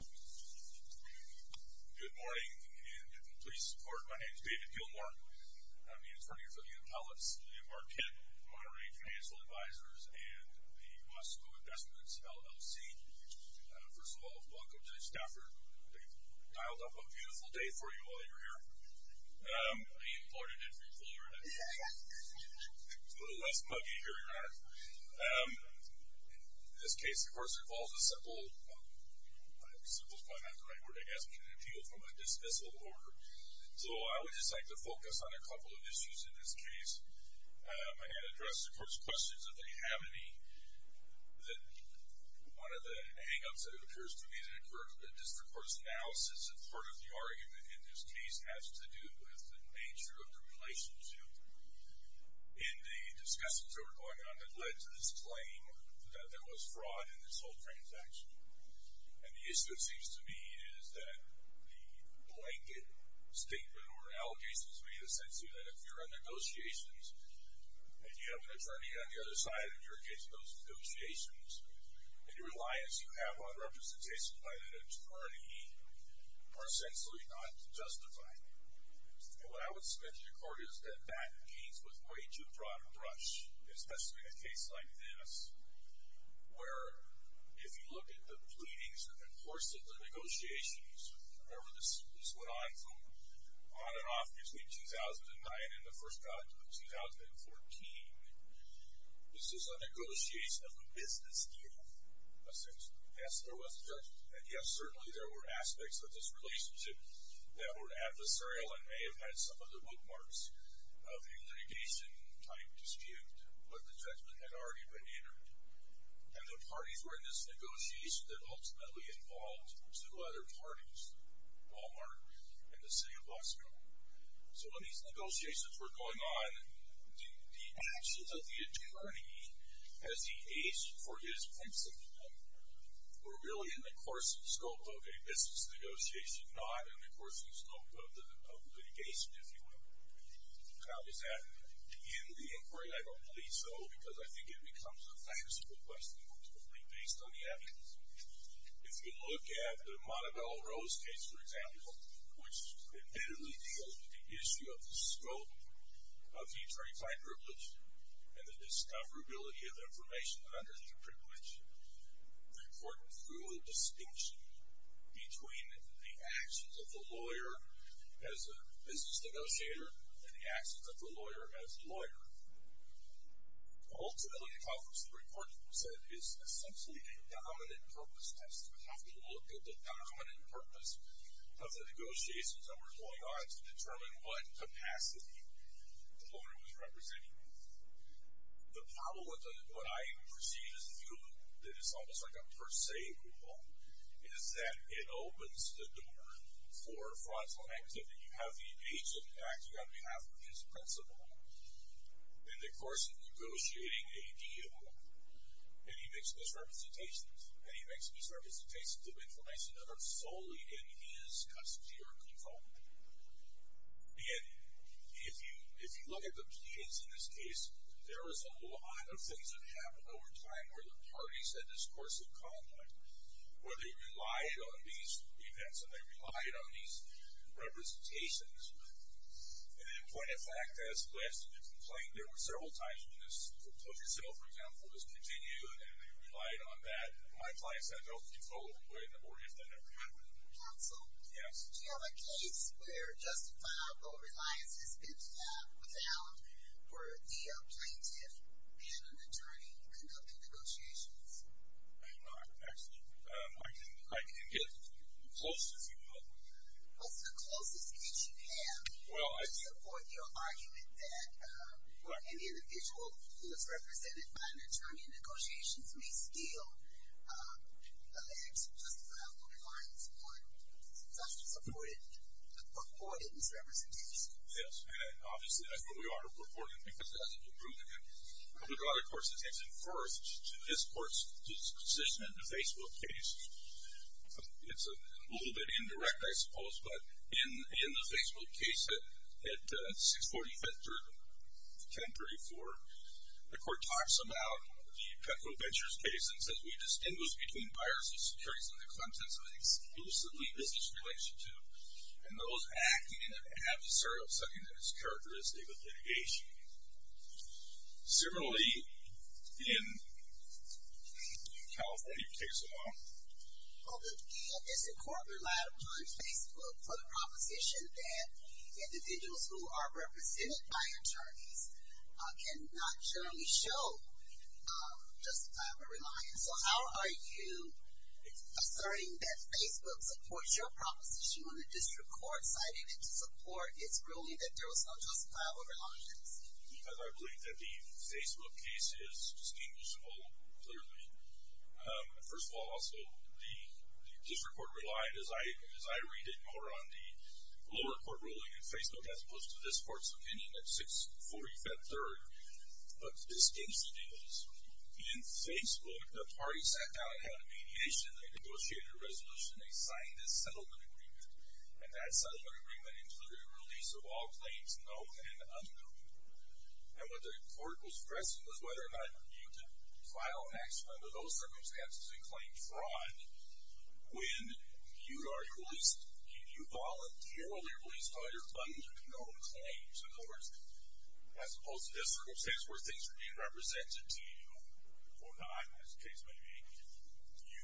Good morning and please support. My name is David Gilmore. I'm the attorney for the Intellects, Liam Barkett, Moderating Financial Advisors, and the Moscow Investments LLC. First of all, welcome to Stafford. We've dialed up a beautiful day for you while you're here. I mean Florida did for you, Florida. It's a little less muggy here, you're right. In this case, of course, it involves a simple... simple is probably not the right word, I guess... an appeal from a dismissal order. So I would just like to focus on a couple of issues in this case and address, of course, questions if they have any that one of the hang-ups that occurs to me that occurs with district court's analysis and part of the argument in this case has to do with the nature of the relationship in the discussions that were going on that led to this claim that there was fraud in this whole transaction. And the issue, it seems to me, is that the blanket statement or allegations made essentially that if you're in negotiations and you have an attorney on the other side and you're engaged in those negotiations and the reliance you have on representation by that attorney are essentially not justified. And what I would suggest to the court is that that case was way too broad a brush, especially in a case like this, where if you look at the pleadings and the course of the negotiations, remember, this went on and off between 2009 and the first trial in 2014. This is a negotiation of a business deal, essentially. Yes, there was a judgment, and yes, certainly, there were aspects of this relationship that were adversarial and may have had some of the bookmarks of a litigation-type dispute, but the judgment had already been entered. And the parties were in this negotiation that ultimately involved two other parties, Walmart and the city of Boston. So when these negotiations were going on, the actions of the attorney as he aced for his principle were really in the course and scope of a business negotiation, not in the course and scope of litigation, if you will. How is that in the inquiry? I don't believe so, because I think it becomes a fanciful question ultimately, based on the evidence. If you look at the Montebello Rose case, for example, which admittedly deals with the issue of the scope of the attorney-client privilege and the discoverability of information that underlies the privilege, the court drew a distinction between the actions of the lawyer as a business negotiator and the actions of the lawyer as a lawyer. Ultimately, as the report said, it's essentially a dominant-purpose test. We have to look at the dominant purpose of the negotiations that were going on to determine what capacity the lawyer was representing. The problem with what I perceive as the view, that it's almost like a per se rule, is that it opens the door for fraudulent activity. You have the agent acting on behalf of his principal in the course of negotiating a deal, and he makes misrepresentations, and he makes misrepresentations of information that are solely in his custody or control. And if you look at the plaintiffs in this case, there is a lot of things that happen over time where the parties in this course of conduct, where they relied on these events and they relied on these representations. And in point of fact, as Liz had complained, there were several times when this proposal, for example, was continued, and they relied on that. My client said, don't get involved with, or if that ever happened. Counsel? Yes. Do you have a case where justifiable reliance has been found where the plaintiff and an attorney conducted negotiations? I do not, actually. I can get as close as you want. What's the closest case you have to support your argument that an individual who is represented by an attorney in negotiations may steal a letter of justifiable reliance on such a reported misrepresentation? Yes, and obviously that's what we are reporting because it hasn't been proven yet. I would draw the court's attention first to this court's position in the Facebook case. It's a little bit indirect, I suppose, but in the Facebook case at 645th or 1034, the court talks about the Petro Ventures case and says we distinguish between buyers of securities and the contents of an exclusively business relationship and those acting in an adversarial setting that is characteristic of litigation. Similarly, in California, it takes a while. Well, the district court relied upon Facebook for the proposition that individuals who are represented by attorneys cannot generally show justifiable reliance. So how are you asserting that Facebook supports your proposition when the district court cited it to support its ruling that there was no justifiable reliance? Because I believe that the Facebook case is distinguishable, clearly. First of all, also, the district court relied, as I read it, more on the lower court ruling in Facebook as opposed to this court's opinion at 645th 3rd. But the distinction is in Facebook, the party sat down and had a mediation. They negotiated a resolution. They signed a settlement agreement, and that settlement agreement included the release of all claims known and unknown. And what the court was stressing was whether or not you could file an action under those circumstances and claim fraud when you are released, you voluntarily released all your unknown claims. In other words, as opposed to this circumstance where things are being represented to you, or not, as the case may be, you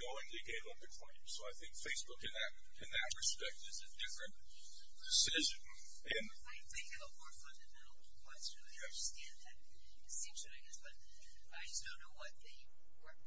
knowingly gave up the claim. So I think Facebook, in that respect, is a different decision. I think you have a more fundamental question. I understand that distinction, I guess, but I just don't know what the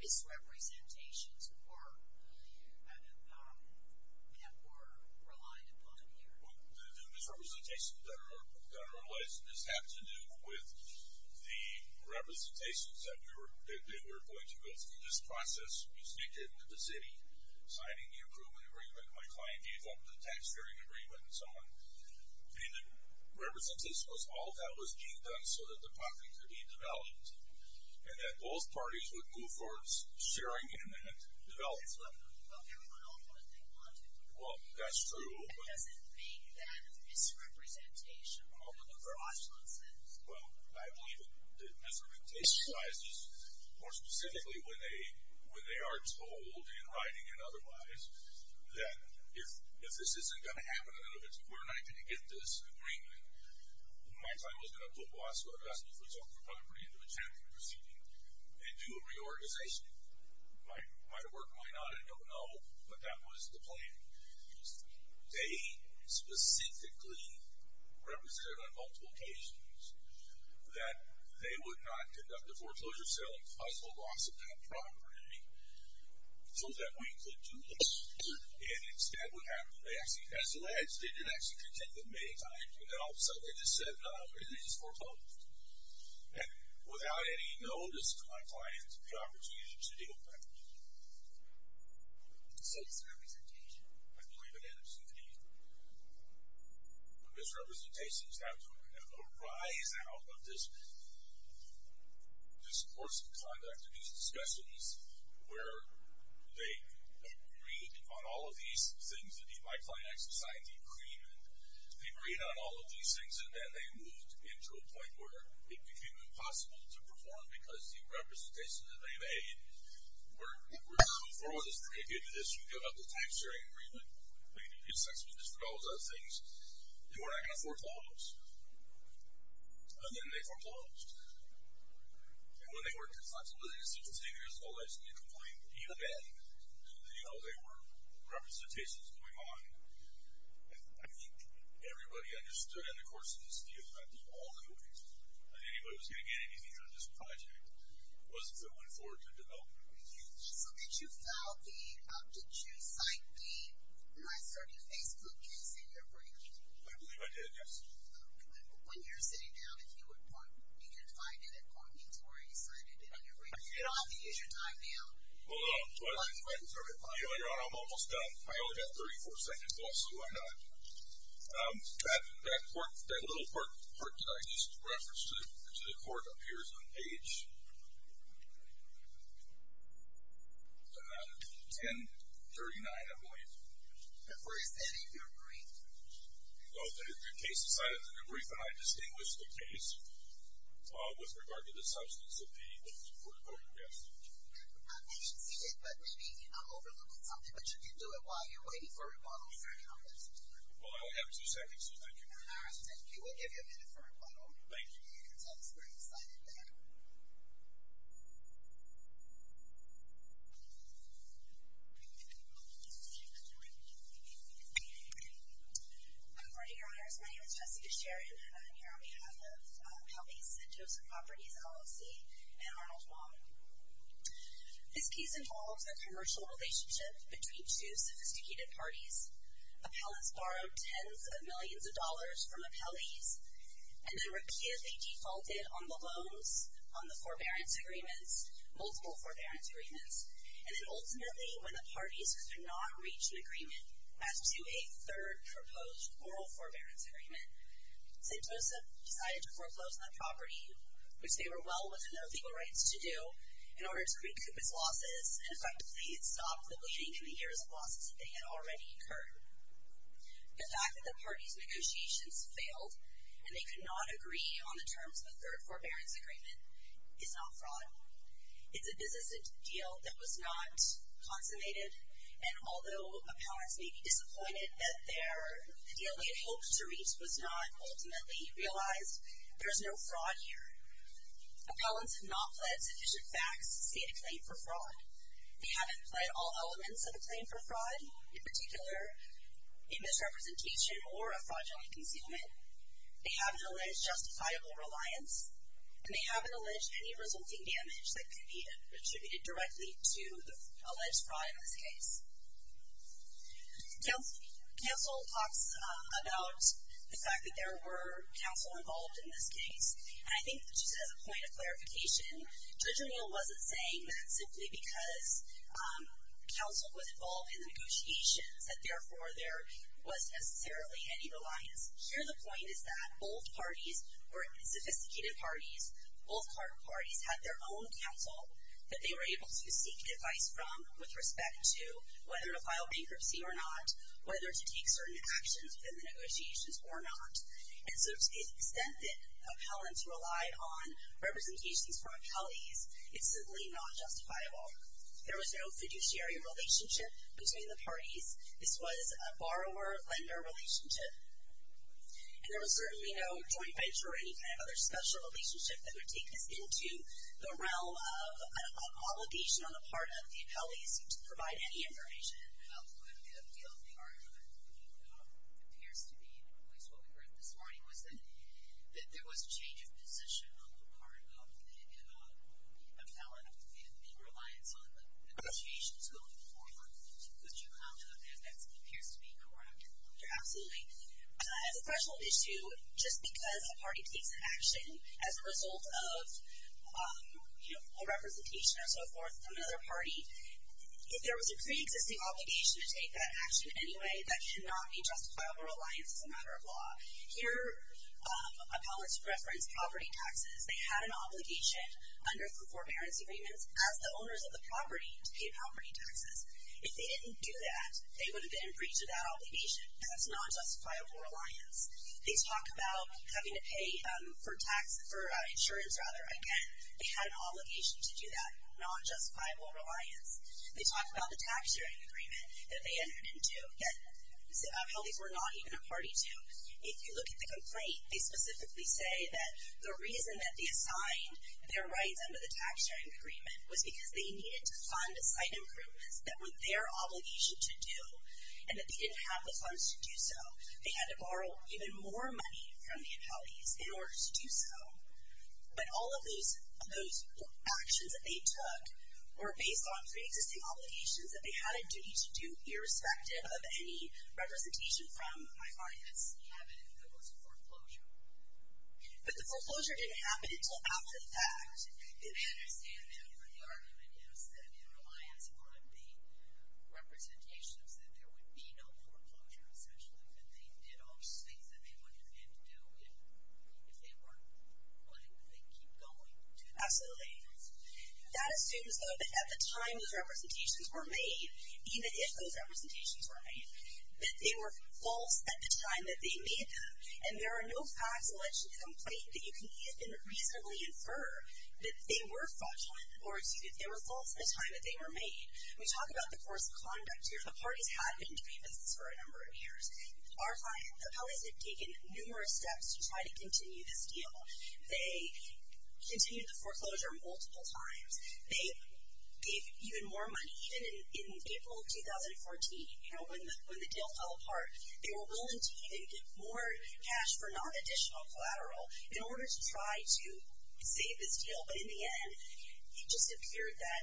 misrepresentations were that were relied upon here. The misrepresentations that are realized have to do with the representations that we were going to build through this process. We sneaked into the city, signing the improvement agreement. My client gave up the tax sharing agreement, and so on. And the representation was all that was being done so that the property could be developed, and that both parties would move towards sharing in that development. Well, everyone else would if they wanted to. Well, that's true, but... That doesn't make that a misrepresentation in a fraudulent sense. Well, I believe the misrepresentation lies more specifically when they are told, in writing and otherwise, that if this isn't going to happen, and if it's a quarter night, can you get this agreement, my client was going to put Wasco, the custody for the property, into a champion proceeding, and do a reorganization. Might work, might not, I don't know, but that was the plan. They specifically represented on multiple occasions that they would not conduct a foreclosure sale and possible loss of that property so that we could do this. And instead, what happened, they actually, as alleged, they did actually contend that many times, and then all of a sudden, they just said, no, everything is foreclosed. And without any notice to my client, the opportunity to deal with that. So it's a representation. I believe it is a representation. The misrepresentation is how to arise out of this... this course of conduct, these discussions, where they agreed on all of these things that my client actually signed the agreement. They agreed on all of these things, and then they moved into a point where it became impossible to perform because the representations that they made were too far with us to make it into this. We gave up the time-sharing agreement. We didn't get sex with this, but all those other things. They were not going to foreclose. And then they foreclosed. And when they were consensually 16 years old, they actually complained even then that, you know, there were representations going on. I think everybody understood in the course of this deal that the only way that anybody was going to get anything out of this project was if it went forward to development. So did you file the... did you cite the NYSERDA Facebook case in your brief? I believe I did, yes. When you're sitting down, if you can find it, it probably means where you cited it in your brief. You don't have to use your time now. Hold on. You know, Your Honor, I'm almost done. I only got 34 seconds left, so I'm done. That little part that I just referenced to the court appears on page... 1039, I believe. Where is that in your brief? No, the case is cited in the brief, and I distinguished the case with regard to the substance of the report, yes. I didn't see it, but maybe I'm overlooking something. But you can do it while you're waiting for a rebuttal. Well, I only have two seconds, so thank you. All right, thank you. We'll give you a minute for a rebuttal. Thank you. You can tell us where you cited that. Good morning, Your Honors. My name is Jessica Sharon, and I'm here on behalf of Appellees and Joseph Properties LLC and Arnold Wong. This case involves a commercial relationship between two sophisticated parties. Appellants borrowed tens of millions of dollars from appellees and then repeatedly defaulted on the loans, on the forbearance agreements, multiple forbearance agreements, and then ultimately, when the parties could not reach an agreement as to a third proposed moral forbearance agreement, St. Joseph decided to foreclose on that property, which they were well within their legal rights to do, in order to recoup its losses and effectively stop the bleeding and the years of losses that they had already incurred. The fact that the parties' negotiations failed and they could not agree on the terms of a third forbearance agreement is not fraud. It's a business deal that was not consummated, and although appellants may be disappointed that the deal they had hoped to reach was not ultimately realized, there is no fraud here. Appellants have not pled sufficient facts to state a claim for fraud. They haven't pled all elements of a claim for fraud, in particular a misrepresentation or a fraudulent concealment. They haven't alleged justifiable reliance, and they haven't alleged any resulting damage that could be attributed directly to the alleged fraud in this case. Counsel talks about the fact that there were counsel involved in this case, and I think just as a point of clarification, Judge O'Neill wasn't saying that simply because counsel was involved in the negotiations that therefore there was necessarily any reliance. Here the point is that both parties were sophisticated parties, both parties had their own counsel that they were able to seek advice from with respect to whether to file bankruptcy or not, whether to take certain actions within the negotiations or not, and so to the extent that appellants rely on representations from accountees, it's simply not justifiable. There was no fiduciary relationship between the parties. This was a borrower-lender relationship, and there was certainly no joint venture or any kind of other special relationship that would take this into the realm of an obligation on the part of the appellees to provide any information. The other thing that appears to be at least what we heard this morning was that there was a change of position on the part of the appellant in reliance on the negotiations going forward. Is your comment on that? That appears to be correct. Absolutely. As a special issue, just because a party takes an action as a result of a representation or so forth from another party, if there was a preexisting obligation to take that action anyway, that cannot be justifiable reliance as a matter of law. Here appellants referenced property taxes. They had an obligation under the Forbearance Agreements as the owners of the property to pay property taxes. If they didn't do that, they would have been in breach of that obligation. That's not justifiable reliance. They talk about having to pay for insurance again. They had an obligation to do that. Not justifiable reliance. They talk about the tax-sharing agreement that they entered into that appellees were not even a party to. If you look at the complaint, they specifically say that the reason that they assigned their rights under the tax-sharing agreement was because they needed to fund site improvements that were their obligation to do, and that they didn't have the funds to do so. They had to borrow even more money from the appellees in order to do so. But all of those actions that they took were based on preexisting obligations that they had a duty to do, irrespective of any representation from my client's cabinet. There was a foreclosure. But the foreclosure didn't happen until after the fact. I understand that. But the argument is that in reliance upon the representations, that there would be no foreclosure, especially if they did all the things that they would have had to do if they weren't planning to keep going. Absolutely. That assumes, though, that at the time those representations were made, even if those representations were made, that they were false at the time that they made them. And there are no facts alleged in the complaint that you can reasonably infer that they were false at the time that they were made. We talk about the course of conduct here. The parties had been doing this for a number of years. Our client, the appellees had taken numerous steps to try to continue this deal. They continued the foreclosure multiple times. They gave even more money. Even in April of 2014, when the deal fell apart, they were willing to even give more cash for non-additional collateral in order to save this deal. But in the end, it just appeared that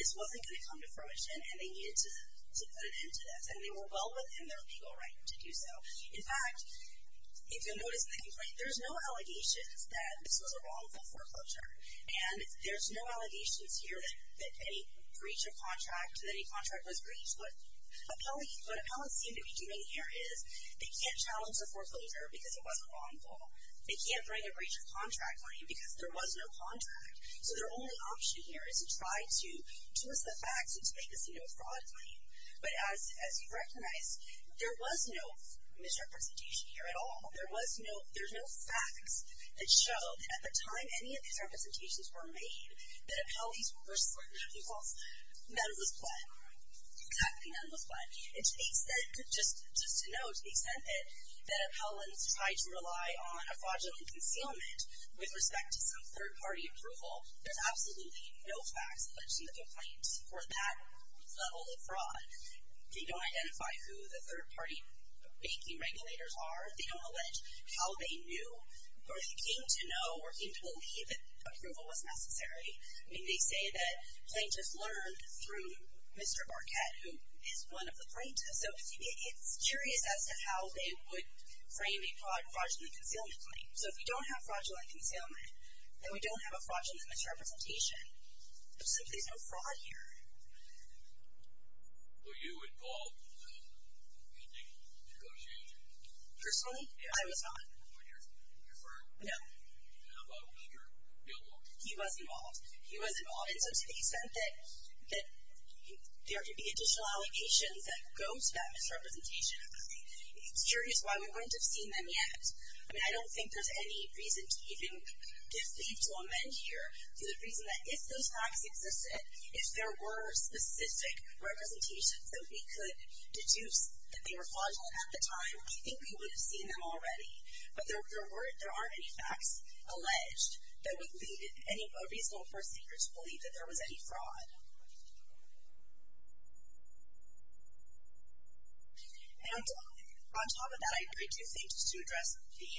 this wasn't going to come to fruition and they needed to put an end to this. And they were well within their legal right to do so. In fact, if you'll notice in the complaint, there's no allegations that this was a wrongful foreclosure. And there's no allegations here that any breach of contract, that any contract was breached. What appellants seem to be doing here is they can't challenge the foreclosure because it wasn't wrongful. They can't bring a breach of contract claim because there was no contract. So their only option here is to try to twist the facts and to make this a no-fraud claim. But as you recognize, there was no misrepresentation here at all. There was no – there's no facts that show that at the time any of these representations were made, that appellees were – I think it was Menlo's plan. Exactly, Menlo's plan. And to the extent – just to note, to the extent that appellants tried to rely on a fraudulent concealment with respect to some third-party approval, there's absolutely no facts alleged in the complaint for that level of fraud. They don't identify who the third-party banking regulators are. They don't allege how they knew or they came to know or came to believe that approval was necessary. I mean, they say that plaintiffs learned through Mr. Marquette, who is one of the plaintiffs. So it's curious as to how they would frame a fraudulent concealment claim. So if you don't have fraudulent concealment, then we don't have a fraudulent misrepresentation. There's absolutely no fraud here. Were you involved in the negotiation? Personally? I was not. With your firm? No. How about with your billboard? He was involved. He was involved, and so to the extent that there could be additional allegations that go to that misrepresentation, it's curious why we wouldn't have seen them yet. I mean, I don't think there's any reason to even believe to amend here to the reason that if those facts existed, if there were specific representations that we could deduce that they were fraudulent at the time, I think we would have seen them already. But there aren't any facts alleged that would lead a reasonable person to believe that there was any fraud. On top of that, I agree two things to address the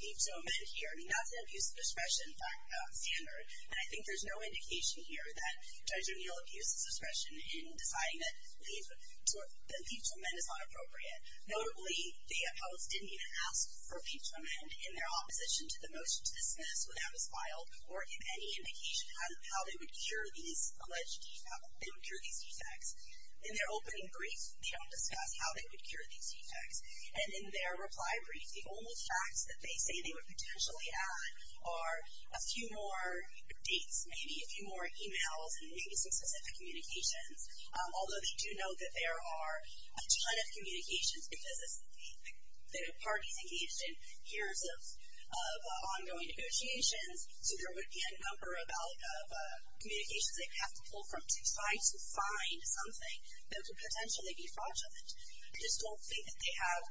need to amend here. I mean, that's an abuse of discretion standard, and I think there's no indication here that Judge O'Neill abused his discretion in deciding that the need to amend is not appropriate. Notably, the appellants didn't even ask for a need to amend in their opposition to the motion to dismiss when that was filed or in any indication how they would cure these alleged defects. In their opening brief, they don't discuss how they would cure these defects. And in their reply brief, the only facts that they say they would potentially add are a few more dates, maybe a few more e-mails, and maybe some specific communications, although they do note that there are a ton of communications because the parties engaged in years of ongoing negotiations, so there would be a number of communications they would have to pull from to find something that would potentially be fraudulent. I just don't think that they have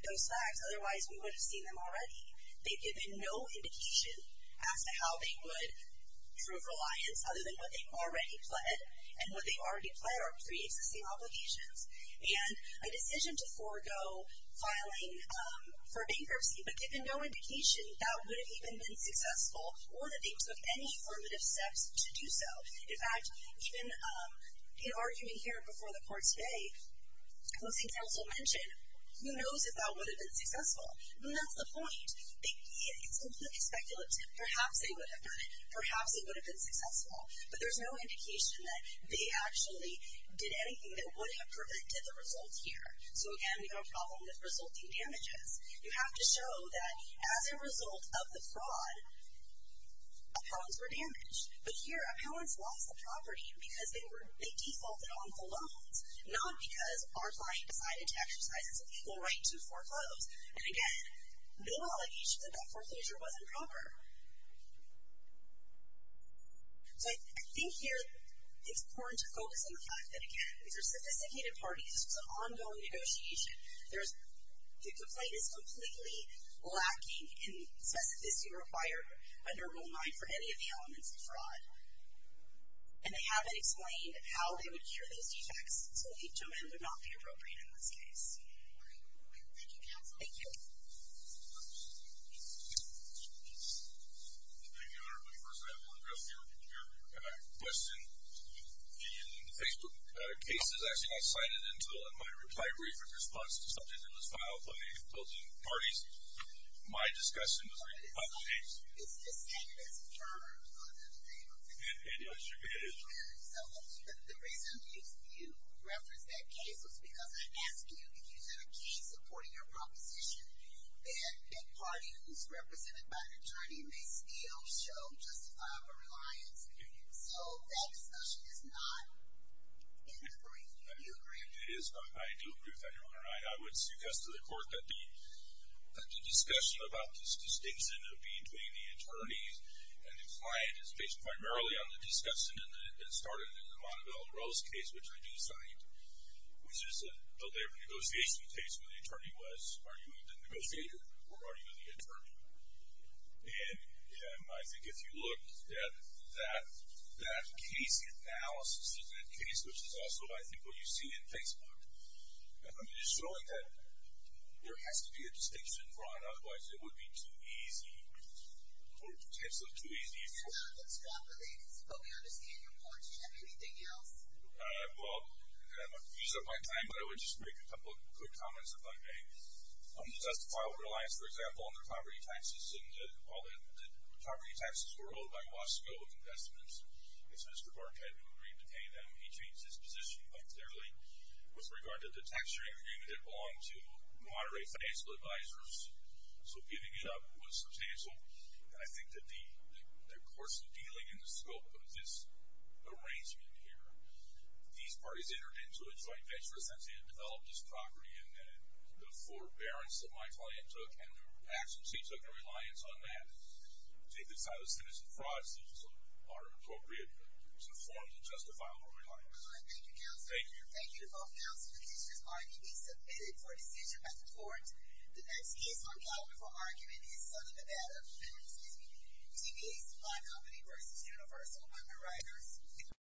those facts. Otherwise, we would have seen them already. They've given no indication as to how they would prove reliance, other than what they already pled, and what they already pled are pre-existing obligations. And a decision to forego filing for bankruptcy, but given no indication that would have even been successful or that they took any formative steps to do so. In fact, even in arguing here before the court today, the state counsel mentioned who knows if that would have been successful. And that's the point. It's completely speculative. Perhaps they would have done it. Perhaps it would have been successful. But there's no indication that they actually did anything that would have prevented the result here. So, again, we've got a problem with resulting damages. You have to show that as a result of the fraud, appellants were damaged. But here, appellants lost the property because they defaulted on the loans, not because our client decided to exercise its legal right to foreclose. And, again, no allegation that that foreclosure wasn't proper. So I think here it's important to focus on the fact that, again, these are sophisticated parties. This was an ongoing negotiation. The complaint is completely lacking in specificity required under Rule 9 for any of the elements of fraud. And they haven't explained how they would cure those defects, so the judgment would not be appropriate in this case. Thank you, Counsel. Thank you. Thank you, Your Honor. First, I want to address your question. In the Facebook case, it was actually not cited until in my reply brief in response to the subject that was filed by the opposing parties. My discussion was about the case. It's just that it has a term on it. And yes, it is. So the reason you referenced that case was because I asked you if you had a case supporting your proposition that a party who is represented by an attorney may still show justifiable reliance on your use. So that discussion is not in the brief. Do you agree? It is. I do agree with that, Your Honor. I would suggest to the Court that the discussion about this distinction of being between the attorneys and the client is based primarily on the discussion that started in the Montebello Rose case, which I do cite, which is a labor negotiation case where the attorney was arguing the negotiator or arguing the attorney. And I think if you look at that case analysis in that case, which is also, I think, what you see in Facebook, I mean, it's showing that there has to be a distinction drawn. Otherwise, it would be too easy or potentially too easy for... Your Honor, let's drop the ladies, but we understand your point. Do you have anything else? Well, I'm going to use up my time, but I would just make a couple of quick comments if I may. Justifiable reliance, for example, on their poverty taxes and that all the poverty taxes were owed by Wasco Investments. It's Mr. Barkhead who agreed to pay them. He changed his position quite clearly with regard to the tax-sharing agreement that belonged to moderate financial advisors. So giving it up was substantial. And I think that the course of dealing in the scope of this arrangement here, these parties entered into a joint venture essentially to develop this property and then the forbearance that my client took and the actions he took and reliance on that to take the side of the citizen fraud are appropriate forms of justifiable reliance. All right, thank you, counsel. Thank you. Thank you to both counsels. The decision has already been submitted for decision by the court. The next case on calumny for argument is Southern Nevada. Excuse me. T.B.'s Fly Company vs. Universal Underwriters.